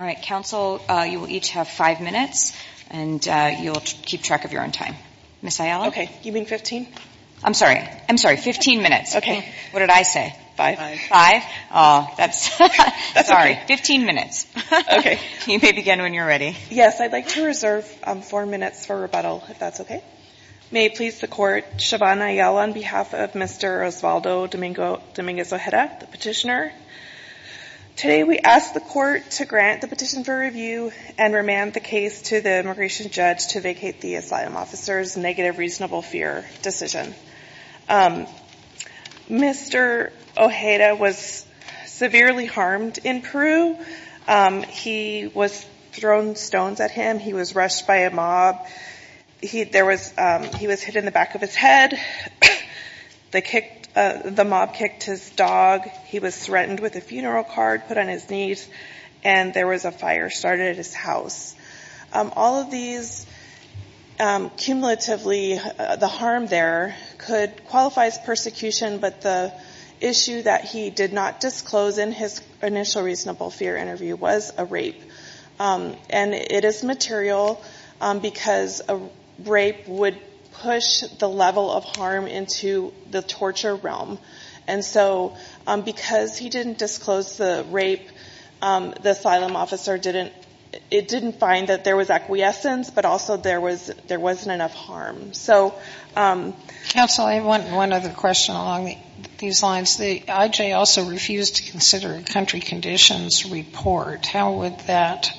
All right. Council, you will each have five minutes, and you'll keep track of your own time. Ms. Ayala? Okay. You mean 15? I'm sorry. I'm sorry. Fifteen minutes. Okay. What did I say? Five. Five? Oh, that's... That's okay. Sorry. Fifteen minutes. Okay. You may begin when you're ready. Yes. I'd like to reserve four minutes for rebuttal, if that's okay. May it please the Court, Siobhan Ayala on behalf of Mr. Osvaldo Dominguez Ojeda, the petitioner. Today, we ask the Court to grant the petition for review and remand the case to the immigration judge to vacate the asylum officer's negative reasonable fear decision. Mr. Ojeda was severely harmed in Peru. He was thrown stones at him. He was rushed by a mob. He was hit in the back of his head. The mob kicked his dog. He was threatened with a funeral card put on his knees, and there was a fire started at his house. All of these, cumulatively, the harm there could qualify as persecution, but the issue that he did not disclose in his initial reasonable fear interview was a rape. And it is material because a rape would push the level of harm into the torture realm. And so because he didn't disclose the rape, the asylum officer didn't find that there was acquiescence, but also there wasn't enough harm. So ‑‑ Counsel, I have one other question along these lines. The IJ also refused to consider a country conditions report. How would that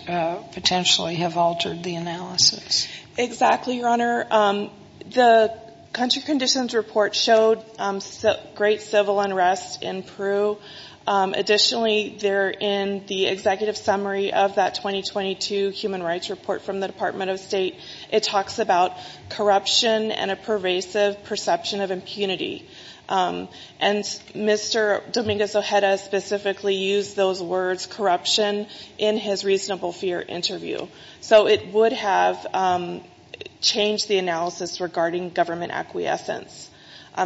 potentially have altered the analysis? Exactly, Your Honor. The country conditions report showed great civil unrest in Peru. Additionally, there in the executive summary of that 2022 human rights report from the Department of State, it talks about corruption and a pervasive perception of impunity. And Mr. Dominguez Ojeda specifically used those words, corruption, in his reasonable fear interview. So it would have changed the analysis regarding government acquiescence.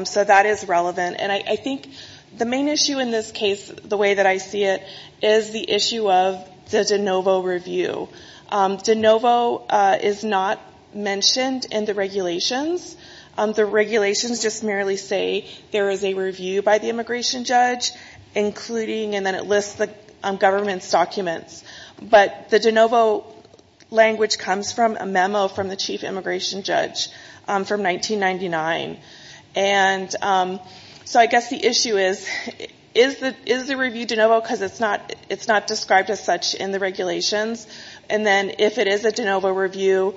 So that is relevant. And I think the main issue in this case, the way that I see it, is the issue of the de novo review. De novo is not mentioned in the regulations. The regulations just merely say there is a review by the immigration judge, including, and then it lists the government's documents. But the de novo language comes from a memo from the chief immigration judge from 1999. And so I guess the issue is, is the review de novo? Because it's not described as such in the regulations. And then if it is a de novo review,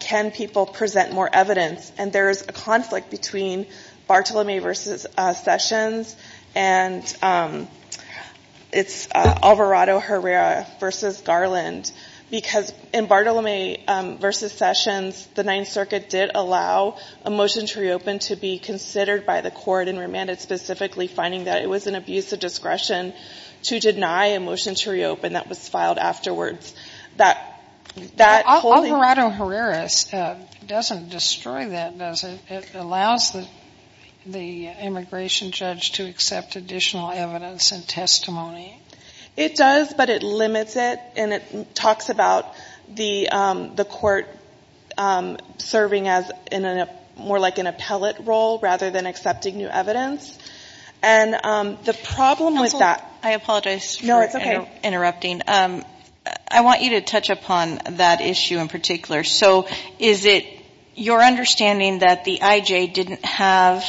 can people present more evidence? And there is a conflict between Bartolome versus Sessions, and it's Alvarado Herrera versus Garland. Because in Bartolome versus Sessions, the Ninth Circuit did allow a motion to reopen to be considered by the court and remanded specifically, finding that it was an abuse of discretion to deny a motion to reopen that was filed afterwards. But Alvarado Herrera doesn't destroy that, does it? It allows the immigration judge to accept additional evidence and testimony? It does, but it limits it. And it talks about the court serving as more like an appellate role rather than accepting new evidence. And the problem with that — No, it's okay. I want you to touch upon that issue in particular. So is it your understanding that the I.J. didn't have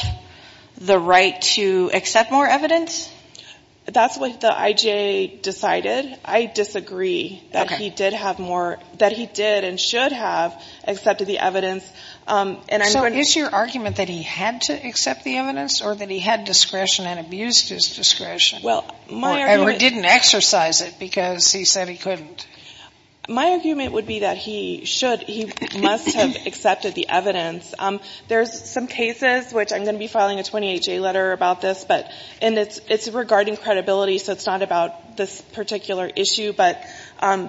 the right to accept more evidence? That's what the I.J. decided. I disagree that he did have more — that he did and should have accepted the evidence. So is your argument that he had to accept the evidence or that he had discretion and abused his discretion? Or didn't exercise it because he said he couldn't? My argument would be that he should — he must have accepted the evidence. There's some cases, which I'm going to be filing a 28-J letter about this, but — and it's regarding credibility, so it's not about this particular issue. But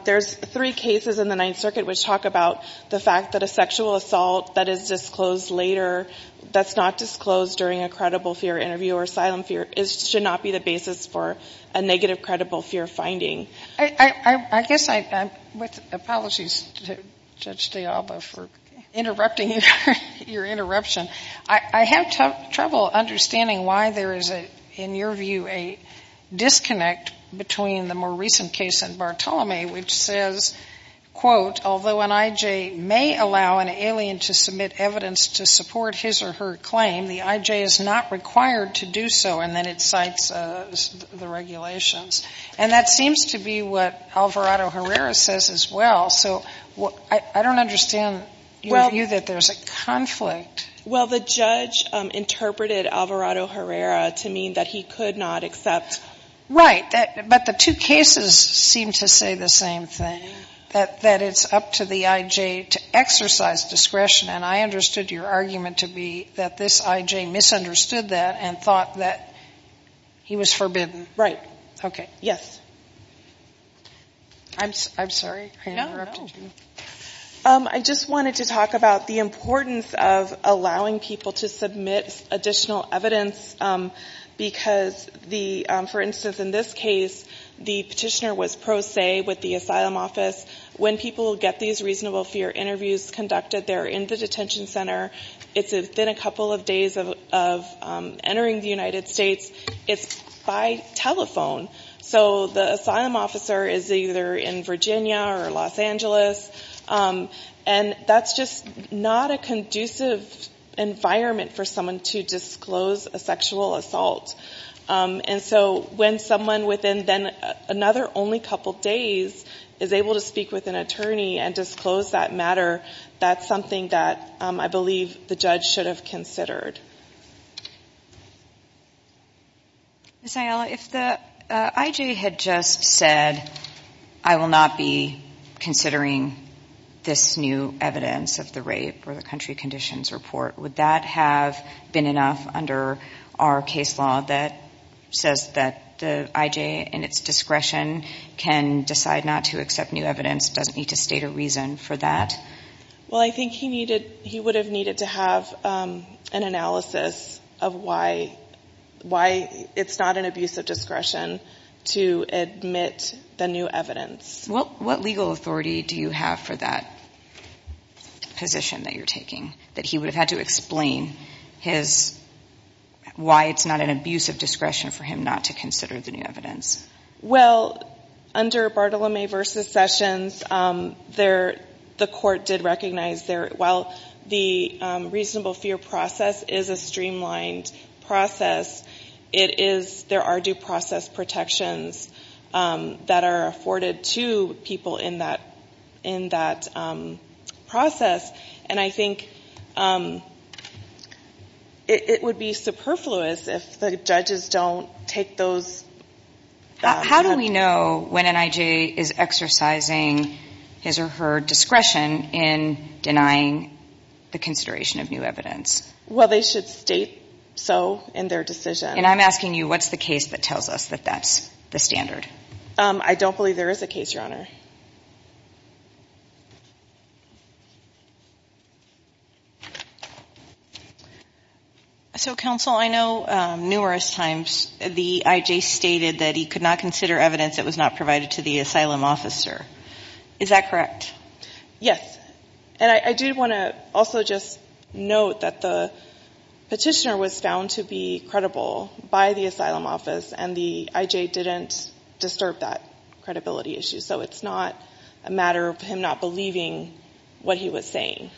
there's three cases in the Ninth Circuit which talk about the fact that a sexual assault that is disclosed later, that's not disclosed during a credible fear interview or asylum fear, should not be the basis for a negative credible fear finding. I guess I — with apologies to Judge DeAlba for interrupting your interruption, I have trouble understanding why there is, in your view, a disconnect between the more recent case and Bartholomew, which says, quote, although an I.J. may allow an alien to submit evidence to support his or her claim, the I.J. is not required to do so, and then it cites the regulations. And that seems to be what Alvarado-Herrera says as well. So I don't understand your view that there's a conflict. Well, the judge interpreted Alvarado-Herrera to mean that he could not accept — Right. But the two cases seem to say the same thing, that it's up to the I.J. to exercise discretion. And I understood your argument to be that this I.J. misunderstood that and thought that he was forbidden. Right. Okay. Yes. I'm sorry. No, no. I just wanted to talk about the importance of allowing people to submit additional evidence because the — for instance, in this case, the petitioner was pro se with the asylum office. When people get these reasonable fear interviews conducted, they're in the detention center. It's within a couple of days of entering the United States. It's by telephone. So the asylum officer is either in Virginia or Los Angeles. And that's just not a conducive environment for someone to disclose a sexual assault. And so when someone within then another only couple days is able to speak with an attorney and disclose that matter, that's something that I believe the judge should have considered. Ms. Ayala, if the I.J. had just said, I will not be considering this new evidence of the rape or the country conditions report, would that have been enough under our case law that says that the I.J. in its discretion can decide not to accept new evidence, doesn't need to state a reason for that? Well, I think he would have needed to have an analysis of why it's not an abuse of discretion to admit the new evidence. What legal authority do you have for that position that you're taking, that he would have had to explain his — why it's not an abuse of discretion for him not to consider the new evidence? Well, under Bartolome versus Sessions, there — the court did recognize there — while the reasonable fear process is a streamlined process, it is — there are due process protections that are afforded to people in that process. And I think it would be superfluous if the judges don't take those — How do we know when an I.J. is exercising his or her discretion in denying the consideration of new evidence? Well, they should state so in their decision. And I'm asking you, what's the case that tells us that that's the standard? I don't believe there is a case, Your Honor. So, Counsel, I know numerous times the I.J. stated that he could not consider evidence that was not provided to the asylum officer. Is that correct? Yes. And I do want to also just note that the petitioner was found to be credible by the asylum office, and the I.J. didn't disturb that credibility issue. So it's not a matter of him not believing what he was saying.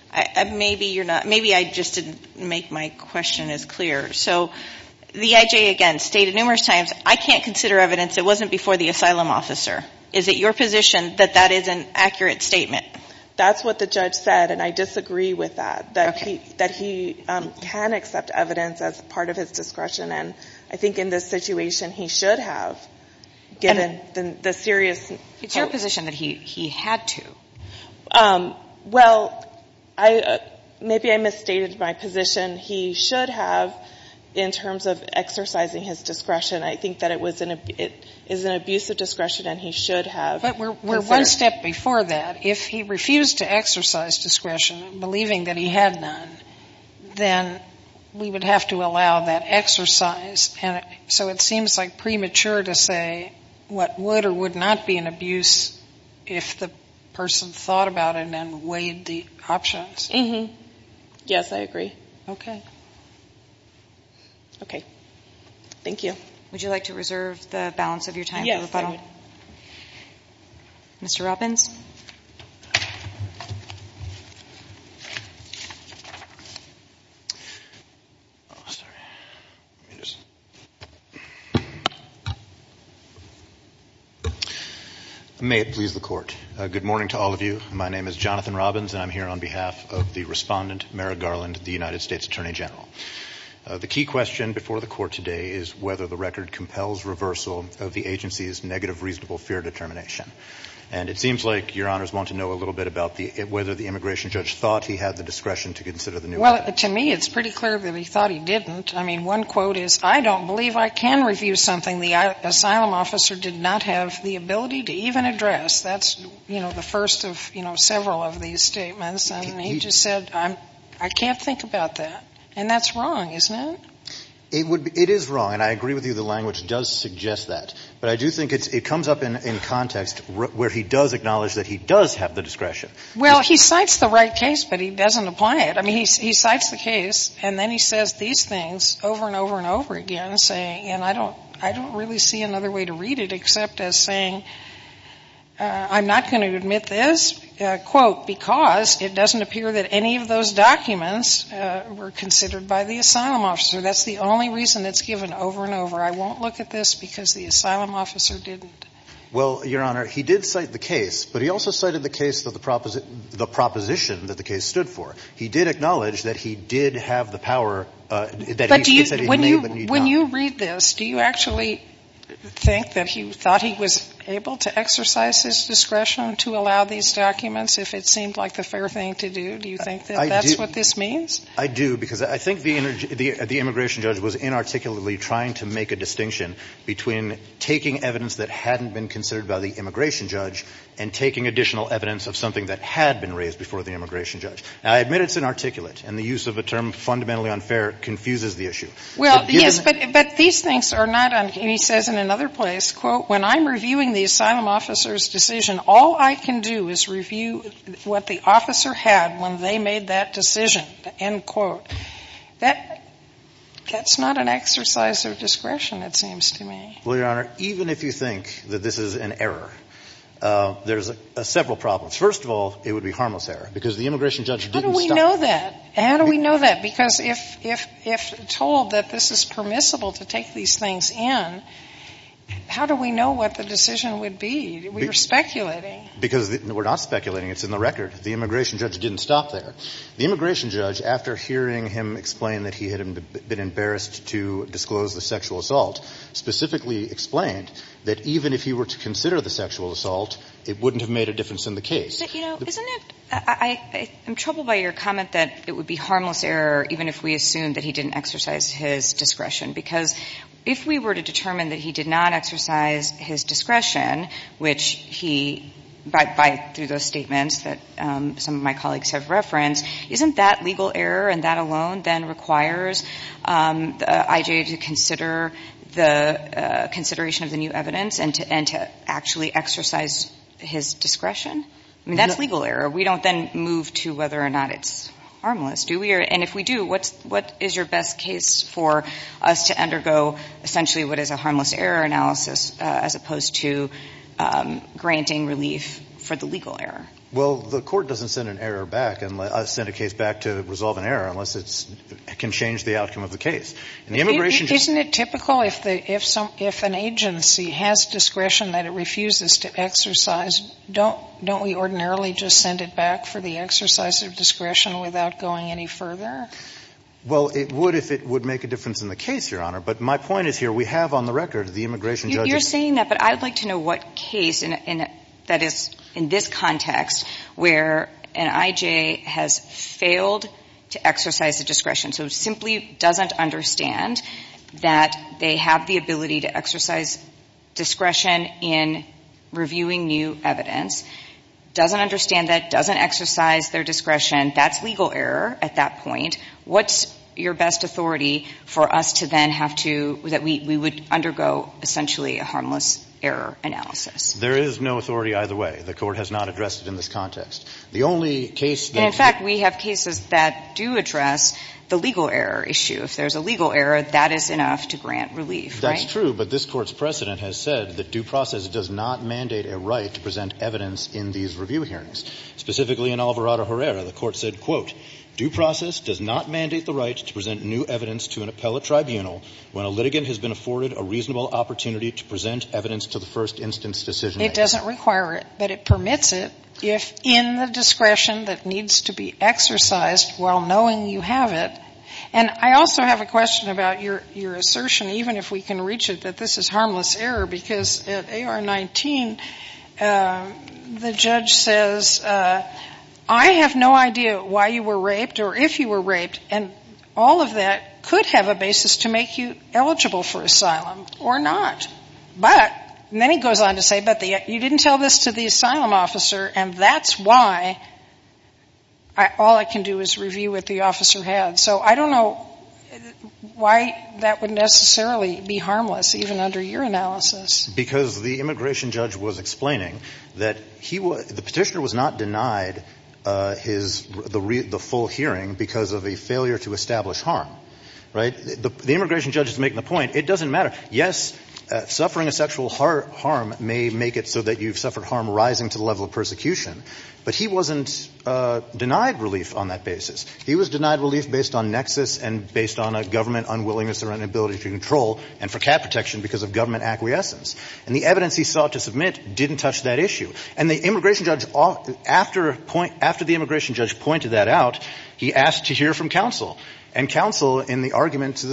Maybe you're not — maybe I just didn't make my question as clear. So the I.J., again, stated numerous times, I can't consider evidence that wasn't before the asylum officer. Is it your position that that is an accurate statement? That's what the judge said, and I disagree with that. Okay. That he can accept evidence as part of his discretion. And I think in this situation, he should have, given the serious — It's your position that he had to. Well, I — maybe I misstated my position. He should have, in terms of exercising his discretion, I think that it was an — it is an abusive discretion, and he should have. But we're one step before that. If he refused to exercise discretion, believing that he had none, then we would have to allow that exercise. And so it seems like premature to say what would or would not be an abuse if the person thought about it and weighed the options. Mm-hmm. Yes, I agree. Okay. Okay. Thank you. Would you like to reserve the balance of your time for rebuttal? Yes, I would. Mr. Robbins. May it please the Court. Good morning to all of you. My name is Jonathan Robbins, and I'm here on behalf of the Respondent, Mera Garland, the United States Attorney General. The key question before the Court today is whether the record compels reversal of the agency's negative reasonable fear determination. And it seems like Your Honors want to know a little bit about whether the immigration judge thought he had the discretion to consider the new record. Well, to me, it's pretty clear that he thought he didn't. I mean, one quote is, I don't believe I can review something the asylum officer did not have the ability to even address. That's, you know, the first of, you know, several of these statements. And he just said, I can't think about that. And that's wrong, isn't it? It is wrong. And I agree with you, the language does suggest that. But I do think it comes up in context where he does acknowledge that he does have the discretion. Well, he cites the right case, but he doesn't apply it. I mean, he cites the case, and then he says these things over and over and over again, saying, and I don't really see another way to read it except as saying, I'm not going to admit this, quote, because it doesn't appear that any of those documents were considered by the asylum officer. That's the only reason it's given over and over. I won't look at this because the asylum officer didn't. Well, Your Honor, he did cite the case, but he also cited the case that the proposition that the case stood for. He did acknowledge that he did have the power that he said he may, but he did not. But when you read this, do you actually think that he thought he was able to exercise his discretion to allow these documents if it seemed like the fair thing to do? Do you think that that's what this means? I do, because I think the immigration judge was inarticulately trying to make a distinction between taking evidence that hadn't been considered by the immigration judge and taking additional evidence of something that had been raised before the immigration judge. Now, I admit it's inarticulate, and the use of a term fundamentally unfair confuses the issue. Well, yes, but these things are not unfair. He says in another place, quote, when I'm reviewing the asylum officer's decision, all I can do is review what the officer had when they made that decision, end quote. That's not an exercise of discretion, it seems to me. Well, Your Honor, even if you think that this is an error, there's several problems. First of all, it would be harmless error, because the immigration judge didn't stop. How do we know that? How do we know that? Because if told that this is permissible to take these things in, how do we know what the decision would be? We were speculating. Because we're not speculating. It's in the record. The immigration judge didn't stop there. The immigration judge, after hearing him explain that he had been embarrassed to disclose the sexual assault, specifically explained that even if he were to consider the sexual assault, it wouldn't have made a difference in the case. I'm troubled by your comment that it would be harmless error even if we assumed that he didn't exercise his discretion. Because if we were to determine that he did not exercise his discretion, which he, through those statements that some of my colleagues have referenced, isn't that legal error, and that alone then requires IJA to consider the consideration of the new evidence and to actually exercise his discretion? I mean, that's legal error. We don't then move to whether or not it's harmless, do we? And if we do, what is your best case for us to undergo essentially what is a harmless error analysis, as opposed to granting relief for the legal error? Well, the court doesn't send a case back to resolve an error unless it can change the outcome of the case. Isn't it typical if an agency has discretion that it refuses to exercise, don't we ordinarily just send it back for the exercise of discretion without going any further? Well, it would if it would make a difference in the case, Your Honor. But my point is here, we have on the record the immigration judge's ---- You're saying that, but I'd like to know what case, that is, in this context, where an IJA has failed to exercise the discretion, so simply doesn't understand that they have the ability to exercise discretion in reviewing new evidence, doesn't understand that, doesn't exercise their discretion. That's legal error at that point. What's your best authority for us to then have to ---- that we would undergo essentially a harmless error analysis? There is no authority either way. The Court has not addressed it in this context. The only case that ---- And, in fact, we have cases that do address the legal error issue. If there's a legal error, that is enough to grant relief, right? That's true, but this Court's precedent has said that due process does not mandate a right to present evidence in these review hearings. Specifically in Alvarado-Herrera, the Court said, quote, ''Due process does not mandate the right to present new evidence to an appellate tribunal when a litigant has been afforded a reasonable opportunity to present evidence to the first instance decision maker.'' It doesn't require it, but it permits it if in the discretion that needs to be exercised while knowing you have it. And I also have a question about your assertion, even if we can reach it, that this is harmless error because at AR-19 the judge says, ''I have no idea why you were raped or if you were raped.'' And all of that could have a basis to make you eligible for asylum or not. But, and then he goes on to say, ''But you didn't tell this to the asylum officer and that's why all I can do is review what the officer had.'' So I don't know why that would necessarily be harmless, even under your analysis. Because the immigration judge was explaining that he was – the Petitioner was not denied his – the full hearing because of a failure to establish harm, right? The immigration judge is making the point, it doesn't matter. Yes, suffering a sexual harm may make it so that you've suffered harm rising to the level of persecution. But he wasn't denied relief on that basis. He was denied relief based on nexus and based on a government unwillingness or inability to control and for cap protection because of government acquiescence. And the evidence he sought to submit didn't touch that issue. And the immigration judge, after the immigration judge pointed that out, he asked to hear from counsel. And counsel, in the argument to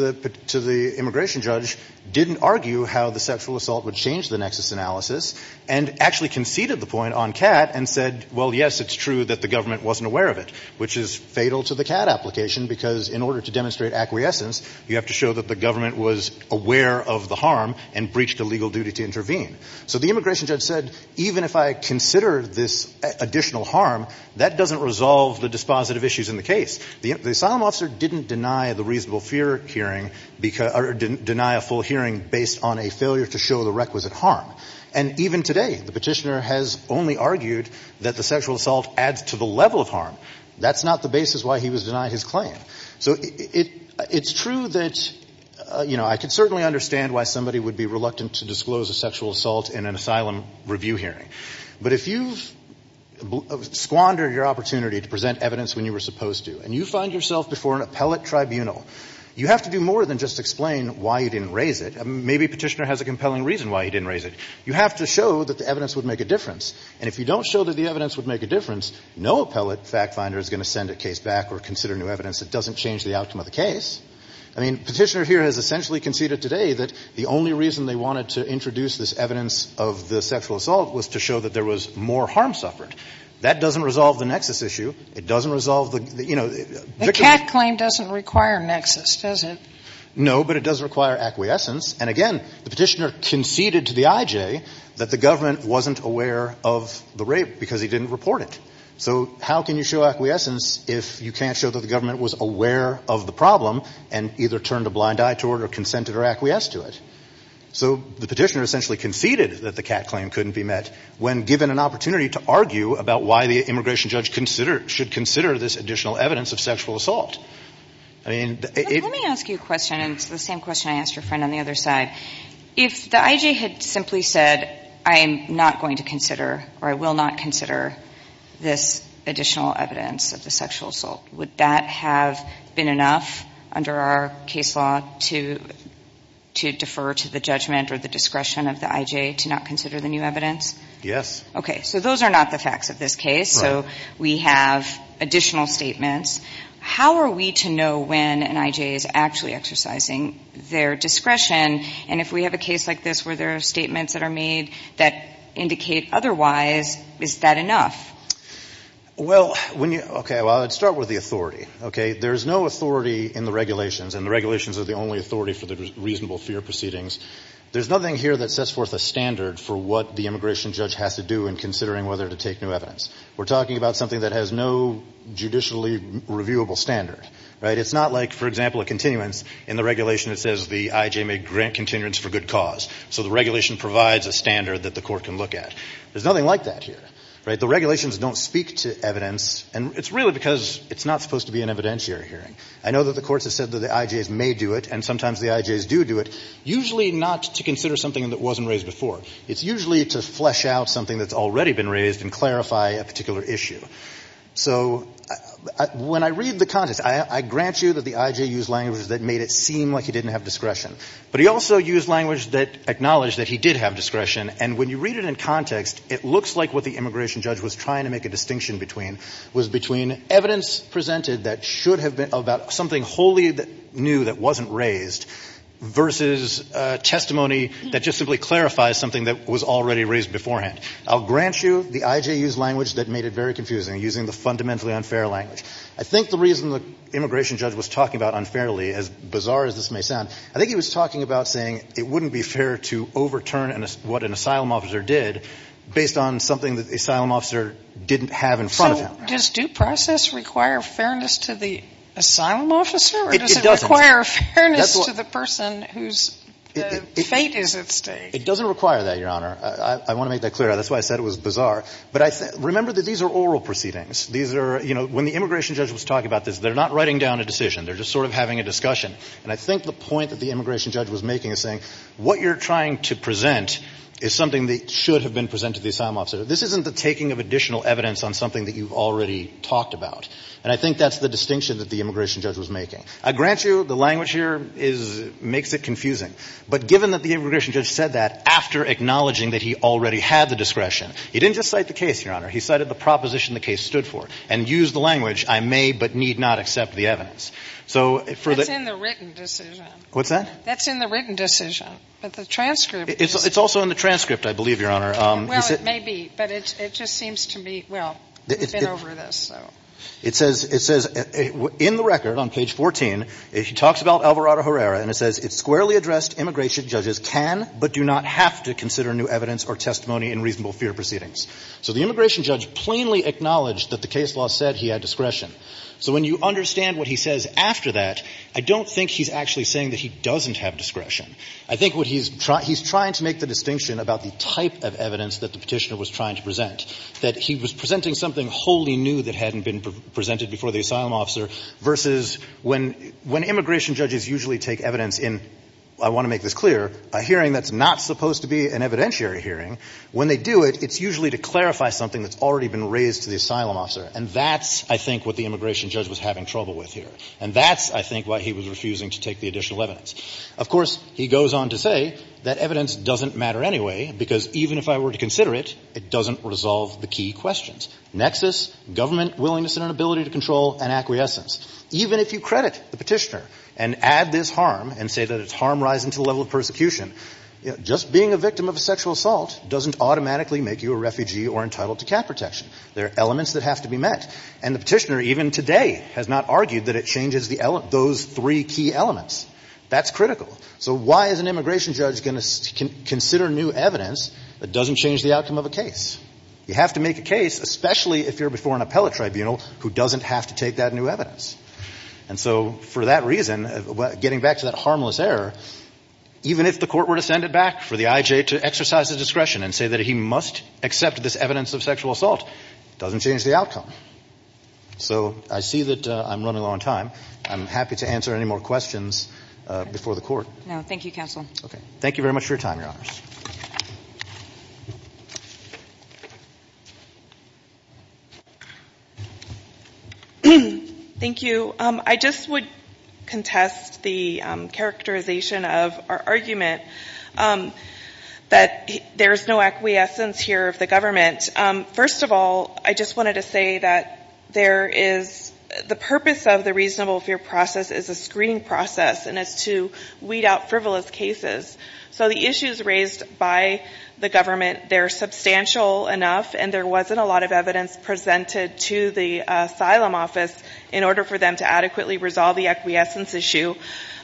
the immigration judge, didn't argue how the sexual assault would change the nexus analysis and actually conceded the point on CAT and said, ''Well, yes, it's true that the government wasn't aware of it.'' Which is fatal to the CAT application because in order to demonstrate acquiescence, you have to show that the government was aware of the harm and breached a legal duty to intervene. So the immigration judge said, ''Even if I consider this additional harm, that doesn't resolve the dispositive issues in the case.'' The asylum officer didn't deny the reasonable fear hearing or deny a full hearing based on a failure to show the requisite harm. And even today, the Petitioner has only argued that the sexual assault adds to the level of harm. That's not the basis why he was denied his claim. So it's true that, you know, I can certainly understand why somebody would be reluctant to disclose a sexual assault in an asylum review hearing. But if you squander your opportunity to present evidence when you were supposed to and you find yourself before an appellate tribunal, you have to do more than just explain why you didn't raise it. Maybe Petitioner has a compelling reason why he didn't raise it. You have to show that the evidence would make a difference. And if you don't show that the evidence would make a difference, no appellate fact finder is going to send a case back or consider new evidence that doesn't change the outcome of the case. I mean, Petitioner here has essentially conceded today that the only reason they wanted to introduce this evidence of the sexual assault was to show that there was more harm suffered. That doesn't resolve the nexus issue. It doesn't resolve the, you know, victim. The Catt claim doesn't require nexus, does it? No, but it does require acquiescence. And again, the Petitioner conceded to the IJ that the government wasn't aware of the rape because he didn't report it. So how can you show acquiescence if you can't show that the government was aware of the problem and either turned a blind eye to it or consented or acquiesced to it? So the Petitioner essentially conceded that the Catt claim couldn't be met when given an opportunity to argue about why the immigration judge should consider this additional evidence of sexual assault. Let me ask you a question. It's the same question I asked your friend on the other side. If the IJ had simply said, I am not going to consider or I will not consider this additional evidence of the sexual assault, would that have been enough under our case law to defer to the judgment or the discretion of the IJ to not consider the new evidence? Yes. Okay. So those are not the facts of this case. Right. So we have additional statements. How are we to know when an IJ is actually exercising their discretion? And if we have a case like this where there are statements that are made that indicate otherwise, is that enough? Well, when you – okay, well, I would start with the authority, okay? There is no authority in the regulations, and the regulations are the only authority for the reasonable fear proceedings. There's nothing here that sets forth a standard for what the immigration judge has to do in considering whether to take new evidence. We're talking about something that has no judicially reviewable standard, right? It's not like, for example, a continuance in the regulation that says the IJ may grant continuance for good cause. So the regulation provides a standard that the court can look at. There's nothing like that here, right? The regulations don't speak to evidence, and it's really because it's not supposed to be an evidentiary hearing. I know that the courts have said that the IJs may do it, and sometimes the IJs do do it, usually not to consider something that wasn't raised before. It's usually to flesh out something that's already been raised and clarify a particular issue. So when I read the context, I grant you that the IJ used language that made it seem like he didn't have discretion, but he also used language that acknowledged that he did have discretion, and when you read it in context, it looks like what the immigration judge was trying to make a distinction between was between evidence presented that should have been about something wholly new that wasn't raised versus testimony that just simply clarifies something that was already raised beforehand. I'll grant you the IJ used language that made it very confusing, using the fundamentally unfair language. I think the reason the immigration judge was talking about unfairly, as bizarre as this may sound, I think he was talking about saying it wouldn't be fair to overturn what an asylum officer did based on something that the asylum officer didn't have in front of him. Does due process require fairness to the asylum officer? It doesn't. Or does it require fairness to the person whose fate is at stake? It doesn't require that, Your Honor. I want to make that clear. That's why I said it was bizarre. But remember that these are oral proceedings. These are, you know, when the immigration judge was talking about this, they're not writing down a decision. They're just sort of having a discussion. And I think the point that the immigration judge was making is saying what you're trying to present is something that should have been presented to the asylum officer. This isn't the taking of additional evidence on something that you've already talked about. And I think that's the distinction that the immigration judge was making. I grant you the language here is – makes it confusing. But given that the immigration judge said that after acknowledging that he already had the discretion, he didn't just cite the case, Your Honor. He cited the proposition the case stood for and used the language, I may but need not accept the evidence. So for the – That's in the written decision. What's that? That's in the written decision. But the transcript – It's also in the transcript, I believe, Your Honor. Well, it may be. But it just seems to me – well, we've been over this, so. It says – it says in the record on page 14, it talks about Alvarado Herrera and it says, It squarely addressed immigration judges can but do not have to consider new evidence or testimony in reasonable fear proceedings. So the immigration judge plainly acknowledged that the case law said he had discretion. So when you understand what he says after that, I don't think he's actually saying that he doesn't have discretion. I think what he's – he's trying to make the distinction about the type of evidence that the Petitioner was trying to present. That he was presenting something wholly new that hadn't been presented before the asylum officer versus when – when immigration judges usually take evidence in, I want to make this clear, a hearing that's not supposed to be an evidentiary hearing, when they do it, it's usually to clarify something that's already been raised to the asylum officer. And that's, I think, what the immigration judge was having trouble with here. And that's, I think, why he was refusing to take the additional evidence. Of course, he goes on to say that evidence doesn't matter anyway, because even if I were to consider it, it doesn't resolve the key questions. Nexus, government willingness and inability to control, and acquiescence. Even if you credit the Petitioner and add this harm and say that it's harm rising to the level of persecution, you know, just being a victim of a sexual assault doesn't automatically make you a refugee or entitled to cap protection. There are elements that have to be met. And the Petitioner even today has not argued that it changes the – those three key elements. That's critical. So why is an immigration judge going to consider new evidence that doesn't change the outcome of a case? You have to make a case, especially if you're before an appellate tribunal who doesn't have to take that new evidence. And so for that reason, getting back to that harmless error, even if the court were to send it back for the IJ to exercise his discretion and say that he must accept this evidence of sexual assault, it doesn't change the outcome. So I see that I'm running low on time. I'm happy to answer any more questions before the court. No, thank you, Counsel. Okay. Thank you very much for your time, Your Honors. Thank you. I just would contest the characterization of our argument that there is no acquiescence here of the government. First of all, I just wanted to say that there is – the purpose of the reasonable fear process is a screening process and it's to weed out frivolous cases. So the issues raised by the government, they're substantial enough and there wasn't a lot of evidence presented to the asylum office in order for them to adequately resolve the acquiescence issue.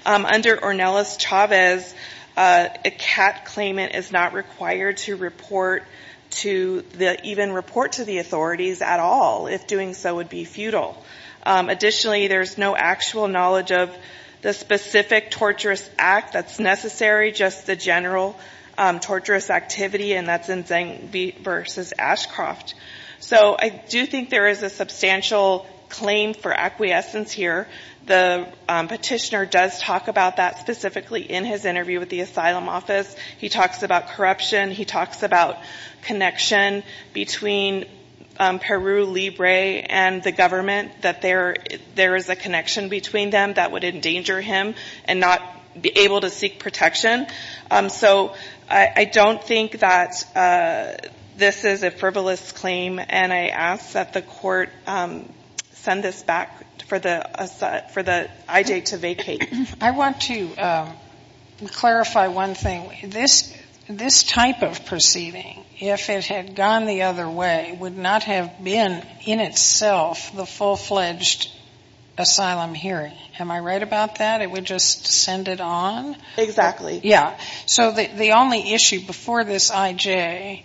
Under Ornelas-Chavez, a CAT claimant is not required to report to the – even report to the authorities at all if doing so would be futile. Additionally, there's no actual knowledge of the specific torturous act that's necessary, just the general torturous activity, and that's in Zeng v. Ashcroft. So I do think there is a substantial claim for acquiescence here. The petitioner does talk about that specifically in his interview with the asylum office. He talks about corruption. He talks about connection between Peru, Libre, and the government, that there is a connection between them that would endanger him and not be able to seek protection. So I don't think that this is a frivolous claim, and I ask that the court send this back for the IJ to vacate. I want to clarify one thing. This type of proceeding, if it had gone the other way, would not have been in itself the full-fledged asylum hearing. Am I right about that? It would just send it on? Exactly. Yeah. So the only issue before this IJ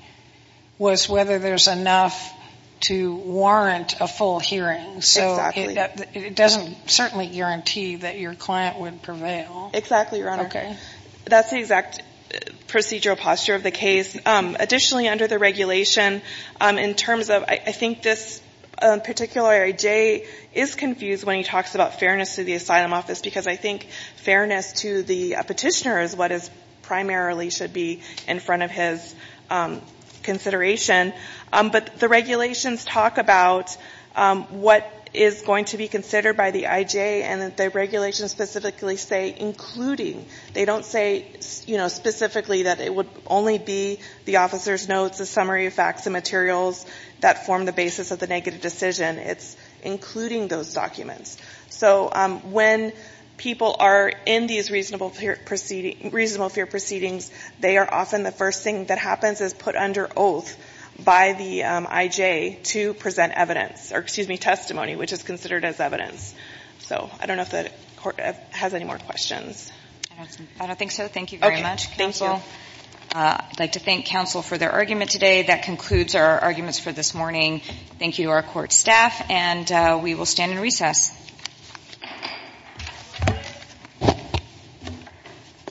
was whether there's enough to warrant a full hearing. Exactly. So it doesn't certainly guarantee that your client would prevail. Exactly, Your Honor. Okay. That's the exact procedural posture of the case. Additionally, under the regulation, in terms of — I think this particular IJ is confused when he talks about fairness to the asylum office, because I think fairness to the petitioner is what primarily should be in front of his consideration. But the regulations talk about what is going to be considered by the IJ, and the regulations specifically say including. They don't say, you know, specifically that it would only be the officer's notes, a summary of facts and materials that form the basis of the negative decision. It's including those documents. So when people are in these reasonable fear proceedings, they are often the IJ to present evidence — or, excuse me, testimony, which is considered as evidence. So I don't know if the Court has any more questions. I don't think so. Thank you very much, Counsel. Okay. Thank you. I'd like to thank Counsel for their argument today. That concludes our arguments for this morning. Thank you to our Court staff, and we will stand in recess.